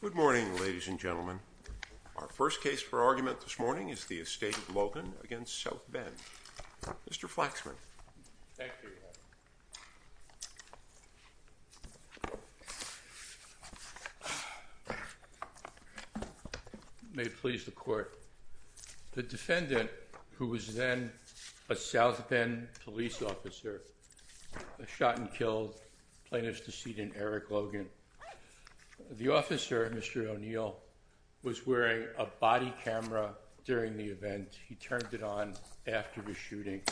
Good morning ladies and gentlemen. Our first case for argument this morning is the estate of Logan against South Bend. Mr. Flaxman, may it please the court. The defendant, who was then a South Bend police officer, shot and killed, plaintiff's The officer, Mr. O'Neill, was wearing a body camera during the event. He turned it on after the shooting.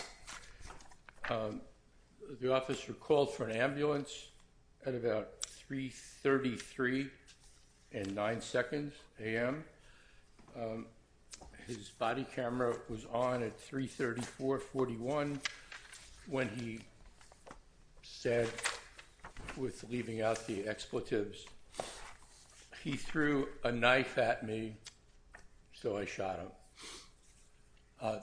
The officer called for an ambulance at about 333 and 9 seconds a.m. His body camera was on at 334-41 when he said, with leaving out the expletives, he threw a knife at me, so I shot him.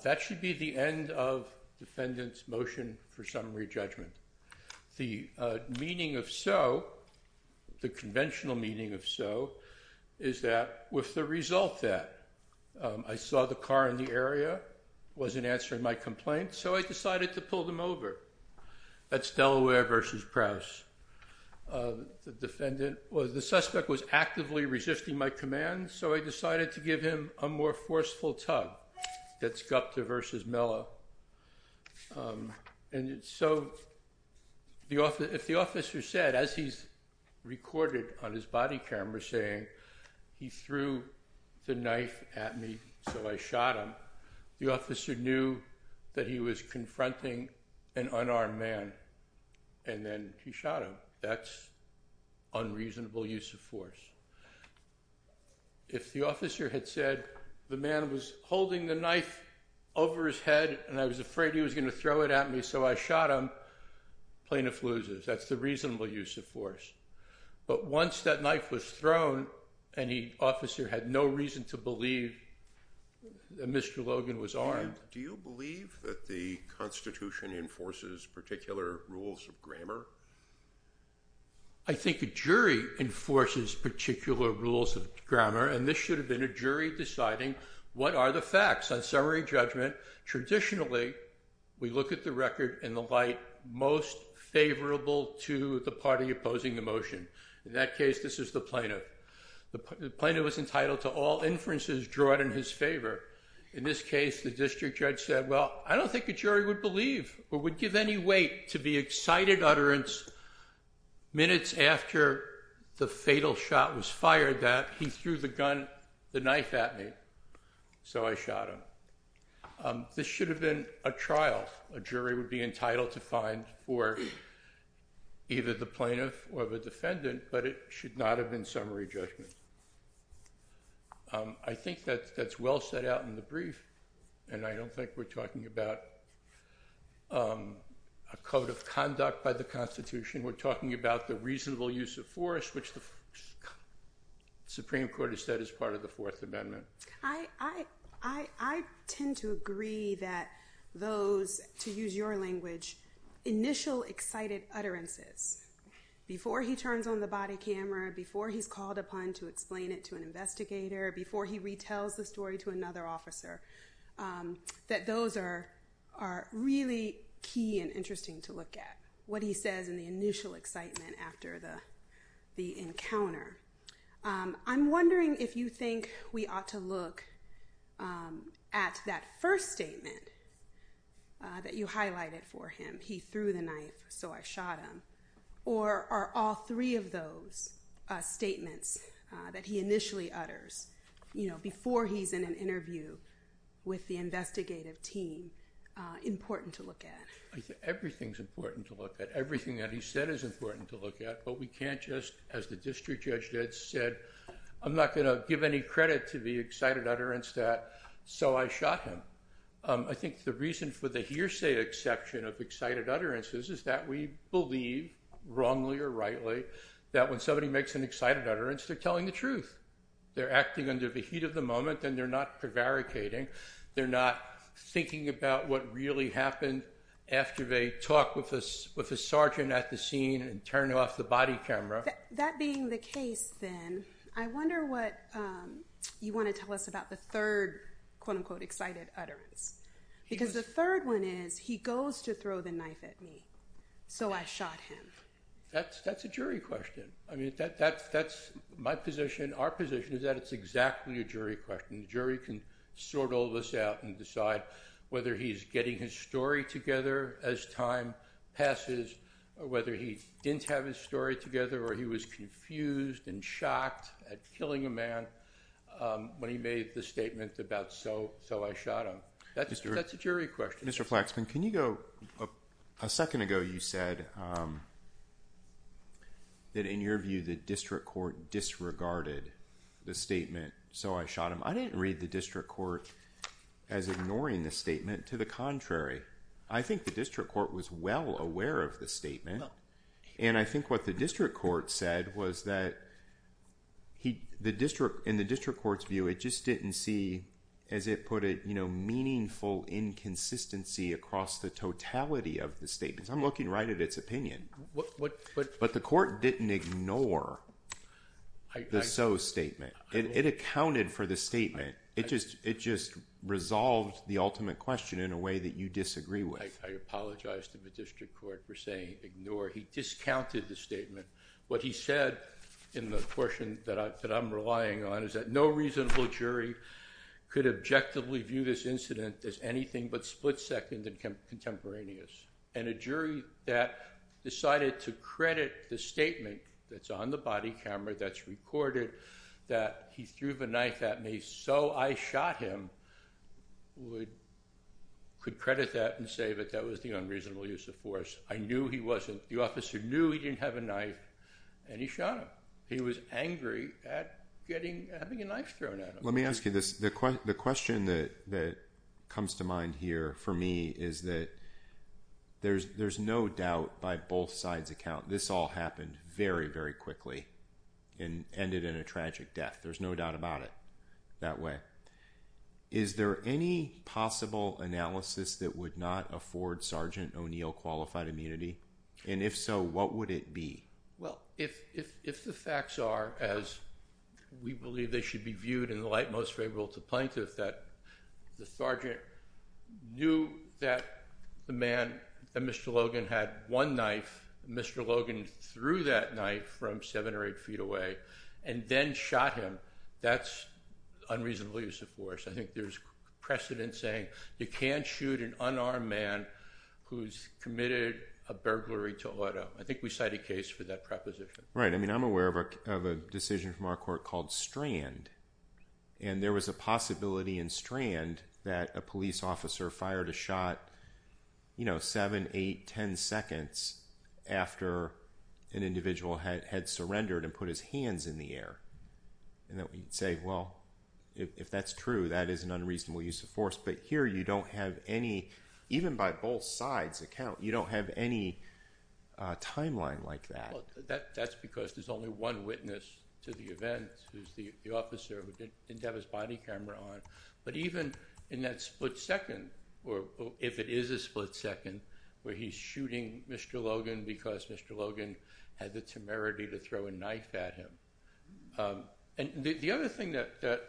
That should be the end of defendant's motion for summary judgment. The meaning of so, the conventional meaning of so, is that with the result that I saw the car in the area was an answer in my complaint, so I decided to pull them over. That's Delaware versus Prowse. The defendant, or the suspect, was actively resisting my command, so I decided to give him a more forceful tug. That's Gupta versus Mello. And so, if the officer said, as he's recorded on his body camera saying, he threw the knife at me, so I shot him, the officer knew that he was confronting an unarmed man and then he shot him. That's unreasonable use of force. If the officer had said, the man was holding the knife over his head and I was afraid he was going to throw it at me, so I shot him, plaintiff loses. That's the reasonable use of force. But once that knife was thrown and the officer had no reason to believe that Mr. Logan was armed. Do you believe that the Constitution enforces particular rules of grammar? I think a jury enforces particular rules of grammar, and this should have been a jury deciding what are the facts. On summary judgment, traditionally, we look at the record in the light most favorable to the party opposing the motion. In that case, this is the plaintiff. The plaintiff was entitled to all inferences drawn in his favor. In this case, the district jury would believe or would give any weight to the excited utterance, minutes after the fatal shot was fired that he threw the knife at me, so I shot him. This should have been a trial. A jury would be entitled to find for either the plaintiff or the defendant, but it should not have been summary judgment. I think that's well set out in the brief, and I don't think we're talking about a code of conduct by the Constitution. We're talking about the reasonable use of force, which the Supreme Court has said is part of the Fourth Amendment. I tend to agree that those, to use your language, initial excited utterances, before he turns on the body camera, before he's called upon to explain it to an officer, that those are really key and interesting to look at, what he says in the initial excitement after the encounter. I'm wondering if you think we ought to look at that first statement that you highlighted for him, he threw the knife, so I shot him, or are all three of those statements that he initially utters, you know, before he's in an interview with the investigative team, important to look at? Everything's important to look at. Everything that he said is important to look at, but we can't just, as the district judge did, said, I'm not going to give any credit to the excited utterance that so I shot him. I think the reason for the hearsay exception of excited utterances is that we believe, wrongly or rightly, that when somebody makes an excited utterance they're telling the truth. They're acting under the heat of the moment and they're not prevaricating, they're not thinking about what really happened after they talk with a sergeant at the scene and turn off the body camera. That being the case then, I wonder what you want to tell us about the third quote-unquote excited utterance, because the third one is he goes to throw the knife at me, so I shot him. That's a jury question. I mean that's my position. Our position is that it's exactly a jury question. The jury can sort all this out and decide whether he's getting his story together as time passes, or whether he didn't have his story together, or he was confused and shocked at killing a man when he made the statement about so I shot him. That's a jury question. Mr. Flaxman, can you go, a second ago you said that in your view the district court disregarded the statement, so I shot him. I didn't read the district court as ignoring the statement, to the contrary. I think the district court was well aware of the statement, and I think what the district court said was that, in the district court's view, it just didn't see, as it put it, you know, meaningful inconsistency across the totality of the statements. I'm looking right at its opinion, but the district court ignored the so statement. It accounted for the statement. It just resolved the ultimate question in a way that you disagree with. I apologize to the district court for saying ignore. He discounted the statement. What he said in the portion that I'm relying on is that no reasonable jury could objectively view this incident as anything but split-second and that's on the body camera, that's recorded, that he threw the knife at me, so I shot him, could credit that and save it. That was the unreasonable use of force. I knew he wasn't, the officer knew he didn't have a knife, and he shot him. He was angry at getting, having a knife thrown at him. Let me ask you this, the question that comes to mind here for me is that there's no doubt by both sides' account this all happened very, very quickly and ended in a tragic death. There's no doubt about it that way. Is there any possible analysis that would not afford Sergeant O'Neill qualified immunity? And if so, what would it be? Well, if the facts are as we believe they should be viewed in the light most favorable to plaintiff, that the sergeant knew that the man, that Mr. Logan had one knife, Mr. Logan threw that knife from seven or eight feet away and then shot him, that's unreasonable use of force. I think there's precedent saying you can't shoot an unarmed man who's committed a burglary to auto. I think we cite a case for that proposition. Right, I mean I'm aware of a decision from our court called Strand, and there was a possibility in Strand that a police officer fired a shot, you know, seven, eight, ten seconds after an individual had surrendered and put his hands in the air. And that we'd say, well, if that's true, that is an unreasonable use of force. But here you don't have any, even by both sides' account, you don't have any timeline like that. That's because there's only one witness to the event, who's the officer who didn't have his body or if it is a split second where he's shooting Mr. Logan because Mr. Logan had the temerity to throw a knife at him. And the other thing that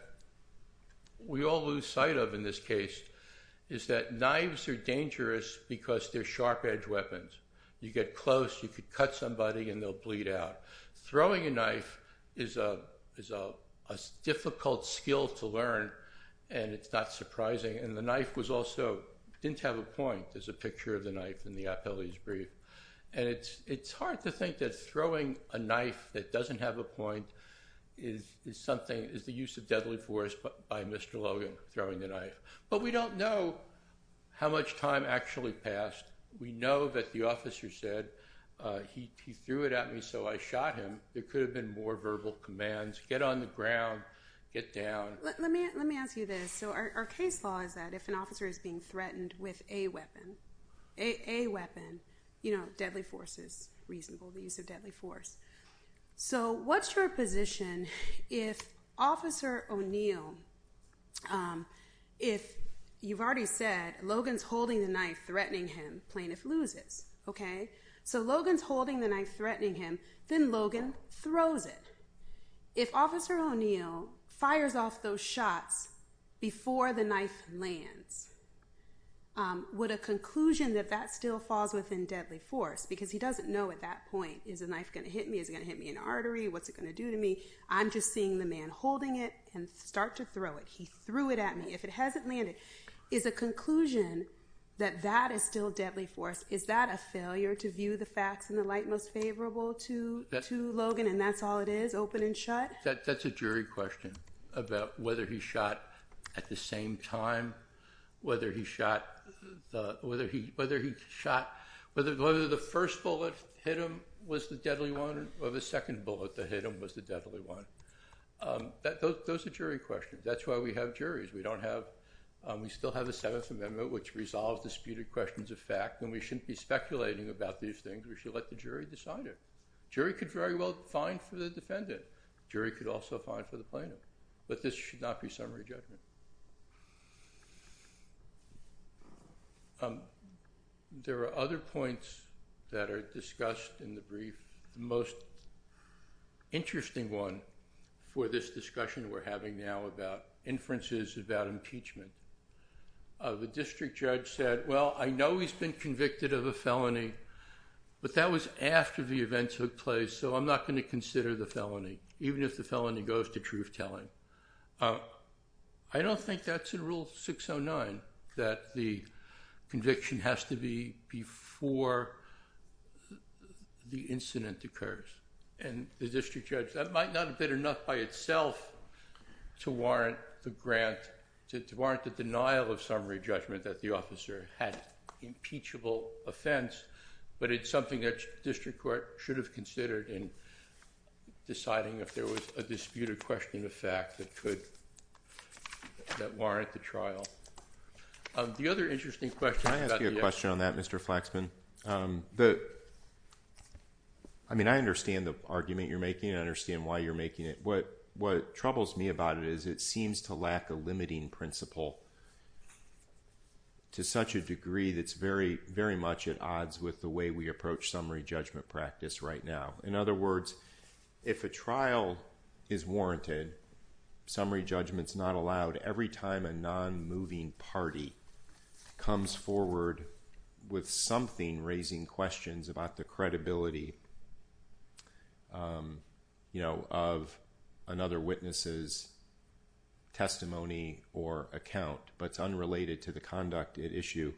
we all lose sight of in this case is that knives are dangerous because they're sharp-edged weapons. You get close, you could cut somebody and they'll bleed out. Throwing a knife is a difficult skill to learn and it's not surprising, and the officer also didn't have a point, there's a picture of the knife in the appellee's brief. And it's hard to think that throwing a knife that doesn't have a point is something, is the use of deadly force by Mr. Logan, throwing the knife. But we don't know how much time actually passed. We know that the officer said, he threw it at me so I shot him. There could have been more verbal commands, get on the ground, get down. Let me ask you this. So our case law is that if an officer is being threatened with a weapon, a weapon, you know deadly force is reasonable, the use of deadly force. So what's your position if Officer O'Neill, if you've already said Logan's holding the knife threatening him, plaintiff loses. Okay, so Logan's holding the knife threatening him, then Logan throws it. If would a conclusion that that still falls within deadly force, because he doesn't know at that point is a knife gonna hit me, is it gonna hit me in artery, what's it gonna do to me, I'm just seeing the man holding it and start to throw it. He threw it at me. If it hasn't landed, is a conclusion that that is still deadly force, is that a failure to view the facts in the light most favorable to Logan and that's all it is, open and shut? That's a jury question about whether he shot at the same time, whether he shot, whether he, whether he shot, whether the first bullet hit him was the deadly one or the second bullet that hit him was the deadly one. Those are jury questions, that's why we have juries. We don't have, we still have the Seventh Amendment which resolves disputed questions of fact and we shouldn't be speculating about these things, we should let the jury decide it. Jury could very well find for the should not be summary judgment. There are other points that are discussed in the brief, the most interesting one for this discussion we're having now about inferences about impeachment. The district judge said well I know he's been convicted of a felony but that was after the events took place so I'm not going to consider the felony, even if the felony goes to truth-telling. I don't think that's in Rule 609 that the conviction has to be before the incident occurs and the district judge, that might not have been enough by itself to warrant the grant, to warrant the denial of summary judgment that the officer had impeachable offense but it's something that district court should have considered in deciding if there was a disputed question of fact that could, that warrant the trial. The other interesting question. Can I ask you a question on that Mr. Flaxman? I mean I understand the argument you're making, I understand why you're making it. What troubles me about it is it seems to lack a limiting principle to such a degree that's very, very much at odds with the way we In other words, if a trial is warranted, summary judgments not allowed, every time a non-moving party comes forward with something raising questions about the credibility, you know, of another witness's testimony or account but it's unrelated to the conduct at issue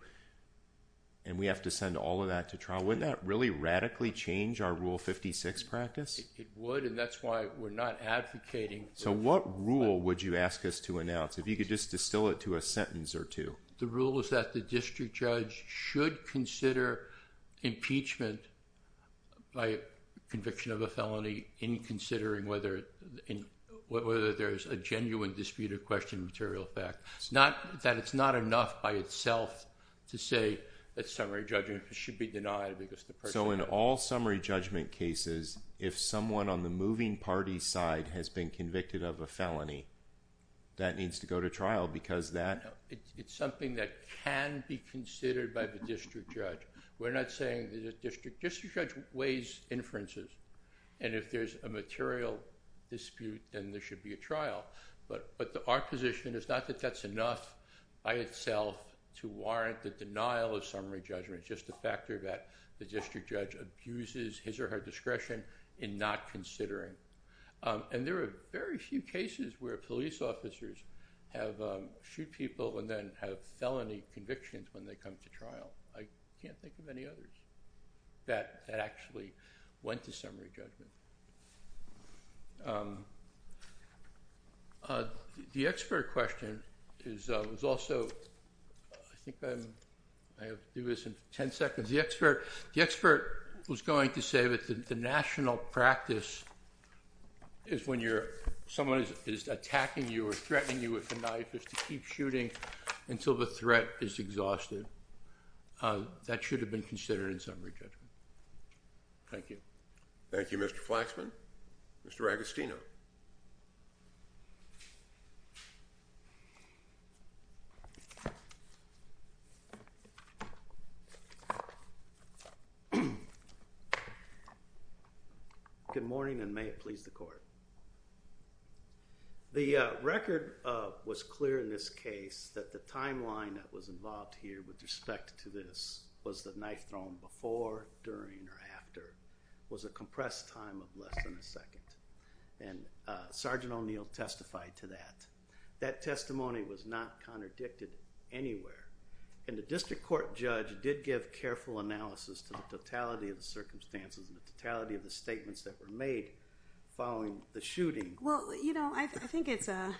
and we have to send all of that to trial. Wouldn't that really radically change our Rule 56 practice? It would and that's why we're not advocating. So what rule would you ask us to announce? If you could just distill it to a sentence or two. The rule is that the district judge should consider impeachment by conviction of a felony in considering whether there's a genuine disputed question of material fact. It's not that it's not enough by So in all summary judgment cases, if someone on the moving party's side has been convicted of a felony, that needs to go to trial because that... It's something that can be considered by the district judge. We're not saying that a district district judge weighs inferences and if there's a material dispute then there should be a trial. But our position is not that that's enough by itself to warrant the denial of summary judgment. It's just a factor that the district judge abuses his or her discretion in not considering. And there are very few cases where police officers have shoot people and then have felony convictions when they come to trial. I can't think of any others that actually went to I think I have to do this in ten seconds. The expert was going to say that the national practice is when you're someone is attacking you or threatening you with a knife is to keep shooting until the threat is exhausted. That should have been considered in summary judgment. Thank you. Thank You Mr. Flaxman. Mr. Agostino. Good morning and may it please the court. The record was clear in this case that the timeline that was involved here with respect to this was the knife thrown before, during, or after was a compressed time of less than a second. And Sergeant O'Neill testified to that. That testimony was not contradicted anywhere. And the district court judge did give careful analysis to the totality of the circumstances and the totality of the statements that were made following the shooting. Well you know I think it's a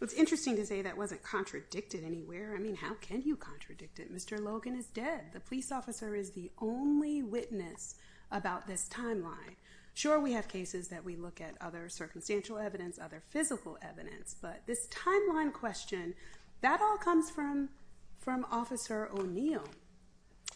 it's interesting to say that wasn't contradicted anywhere. I mean how can you contradict it? Mr. Logan is dead. The police officer is the only witness about this timeline. Sure we have cases that we have circumstantial evidence, other physical evidence, but this timeline question that all comes from from Officer O'Neill.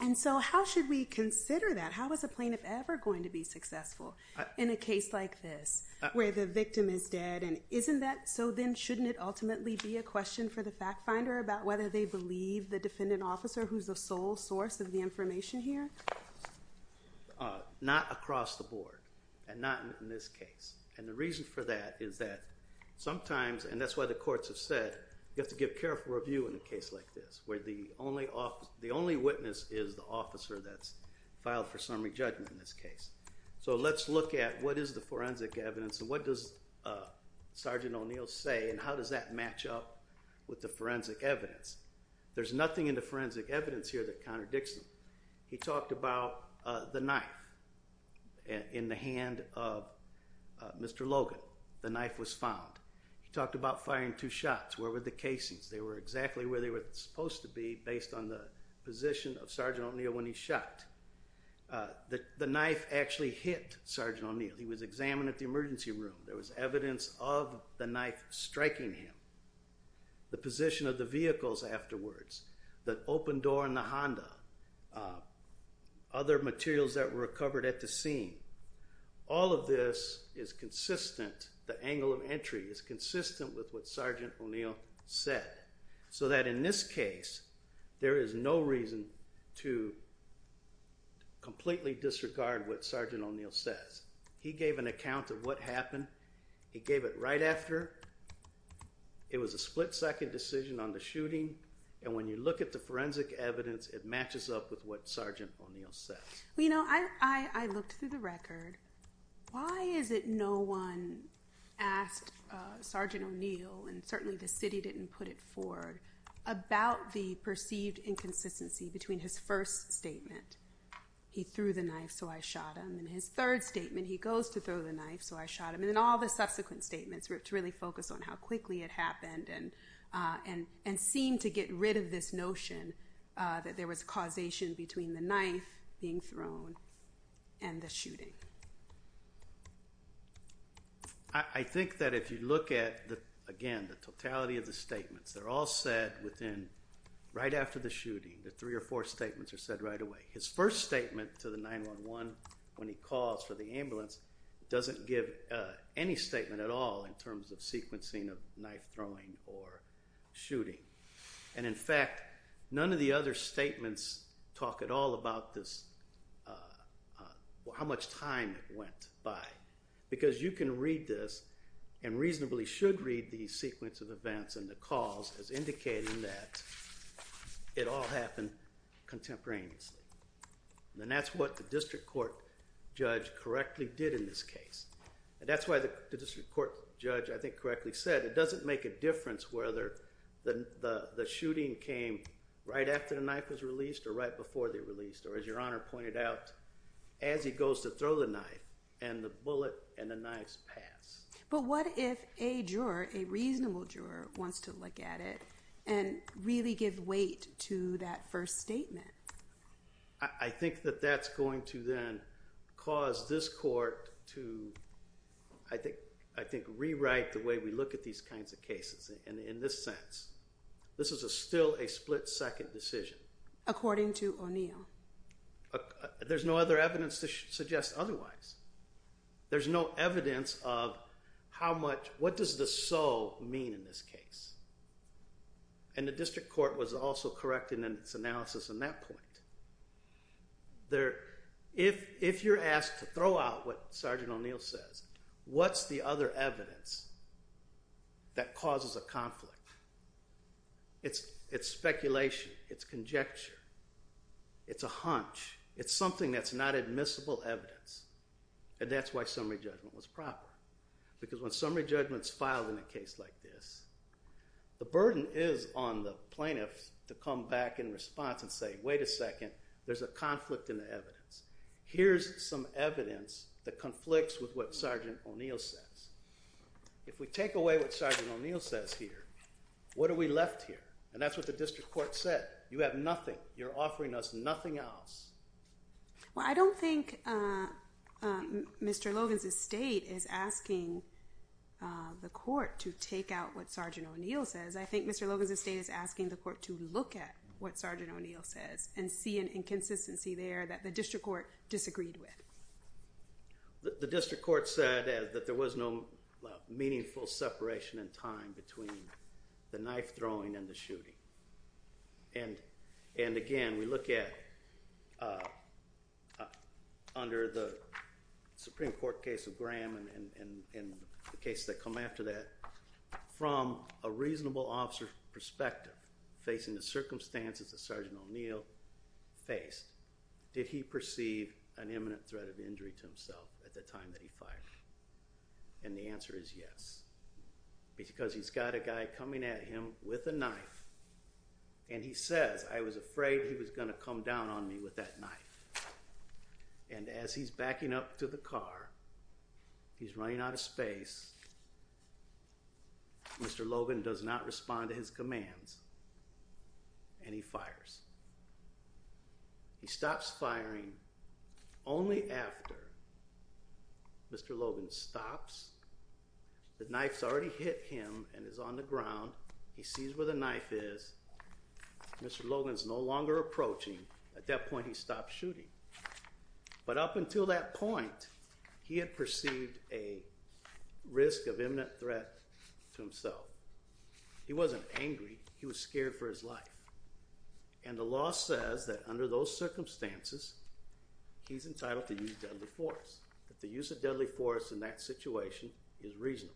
And so how should we consider that? How is a plaintiff ever going to be successful in a case like this where the victim is dead? And isn't that so then shouldn't it ultimately be a question for the fact finder about whether they believe the defendant officer who's the sole source of the information here? Not across the board and not in this case. And the reason for that is that sometimes and that's why the courts have said you have to give careful review in a case like this where the only off the only witness is the officer that's filed for summary judgment in this case. So let's look at what is the forensic evidence and what does Sergeant O'Neill say and how does that match up with the forensic evidence? There's nothing in the forensic evidence here that contradicts them. He talked about the knife in the hand of Mr. Logan. The knife was found. He talked about firing two shots. Where were the casings? They were exactly where they were supposed to be based on the position of Sergeant O'Neill when he shot. The knife actually hit Sergeant O'Neill. He was examined at the emergency room. There was evidence of the knife striking him. The position of the vehicles afterwards. The other materials that were recovered at the scene. All of this is consistent. The angle of entry is consistent with what Sergeant O'Neill said. So that in this case there is no reason to completely disregard what Sergeant O'Neill says. He gave an account of what happened. He gave it right after. It was a split-second decision on the shooting and when you look at the forensic evidence it matches up with what Sergeant O'Neill says. You know I looked through the record. Why is it no one asked Sergeant O'Neill and certainly the city didn't put it forward about the perceived inconsistency between his first statement, he threw the knife so I shot him, and his third statement, he goes to throw the knife so I shot him, and then all the subsequent statements were to really focus on how quickly it happened and seemed to get rid of this notion that there was causation between the knife being thrown and the shooting. I think that if you look at the again the totality of the statements they're all said within right after the shooting. The three or four statements are said right away. His first statement to the 9-1-1 when he calls for the ambulance doesn't give any statement at all in terms of sequencing of knife throwing or shooting and in the other statements talk at all about this how much time went by because you can read this and reasonably should read the sequence of events and the cause as indicating that it all happened contemporaneously. Then that's what the district court judge correctly did in this case and that's why the district court judge I think correctly said it doesn't make a difference whether the after the knife was released or right before they released or as your honor pointed out as he goes to throw the knife and the bullet and the knives pass. But what if a juror a reasonable juror wants to look at it and really give weight to that first statement? I think that that's going to then cause this court to I think I think rewrite the way we look at these kinds of cases and in this sense this is a still a split-second decision. According to O'Neill. There's no other evidence to suggest otherwise. There's no evidence of how much what does the so mean in this case and the district court was also correcting in its analysis in that point. There if if you're asked to throw out what sergeant O'Neill says what's the other evidence that causes a conflict? It's it's speculation. It's conjecture. It's a hunch. It's something that's not admissible evidence and that's why summary judgment was proper because when summary judgments filed in a case like this the burden is on the plaintiffs to come back in response and say wait a second there's a conflict in the evidence that conflicts with what sergeant O'Neill says. If we take away what sergeant O'Neill says here what are we left here and that's what the district court said. You have nothing. You're offering us nothing else. Well I don't think Mr. Logan's estate is asking the court to take out what sergeant O'Neill says. I think Mr. Logan's estate is asking the court to look at what sergeant O'Neill says and see an inconsistency there that the district court disagreed with. The district court said that there was no meaningful separation in time between the knife throwing and the shooting and and again we look at under the Supreme Court case of Graham and in the case that come after that from a reasonable officer perspective facing the circumstances that sergeant O'Neill faced did he perceive an imminent threat of injury to himself at the time that he fired and the answer is yes because he's got a guy coming at him with a knife and he says I was afraid he was gonna come down on me with that knife and as he's backing up to the car he's running out of space. Mr. Logan does not respond to his commands and he fires. He stops firing only after Mr. Logan stops. The knife's already hit him and is on the ground. He sees where the knife is. Mr. Logan's no longer approaching. At that point he stopped shooting but up that point he had perceived a risk of imminent threat to himself. He wasn't angry. He was scared for his life and the law says that under those circumstances he's entitled to use deadly force. That the use of deadly force in that situation is reasonable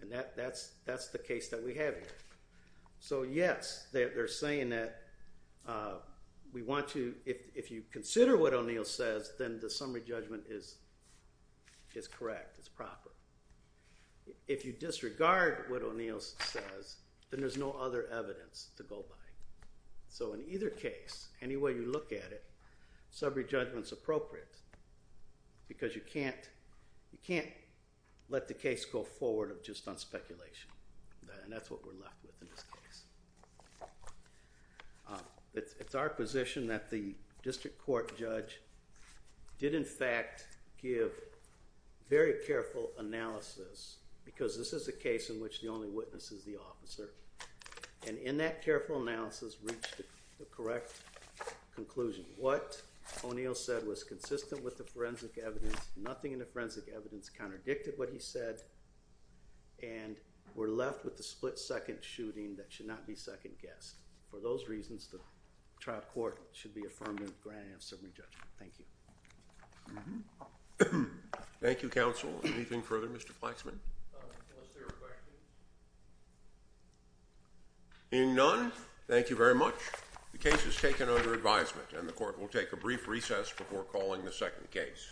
and that that's that's the case that we have here so yes they're saying that we want to if you consider what O'Neill says then the summary judgment is is correct it's proper. If you disregard what O'Neill says then there's no other evidence to go by so in either case any way you look at it summary judgments appropriate because you can't you can't let the case go forward of just on speculation and that's what we're left with in this case. It's our position that the district court judge did in fact give very careful analysis because this is a case in which the only witness is the officer and in that careful analysis reached the correct conclusion. What O'Neill said was consistent with the forensic evidence nothing in the forensic evidence contradicted what he said and we're left with the split-second shooting that should not be second-guessed. For those reasons the trial court should be affirmed and granted a summary judgment. Thank you. Thank you counsel. Anything further Mr. Flaxman? Hearing none, thank you very much. The case is taken under advisement and the court will take a brief recess before calling the second case.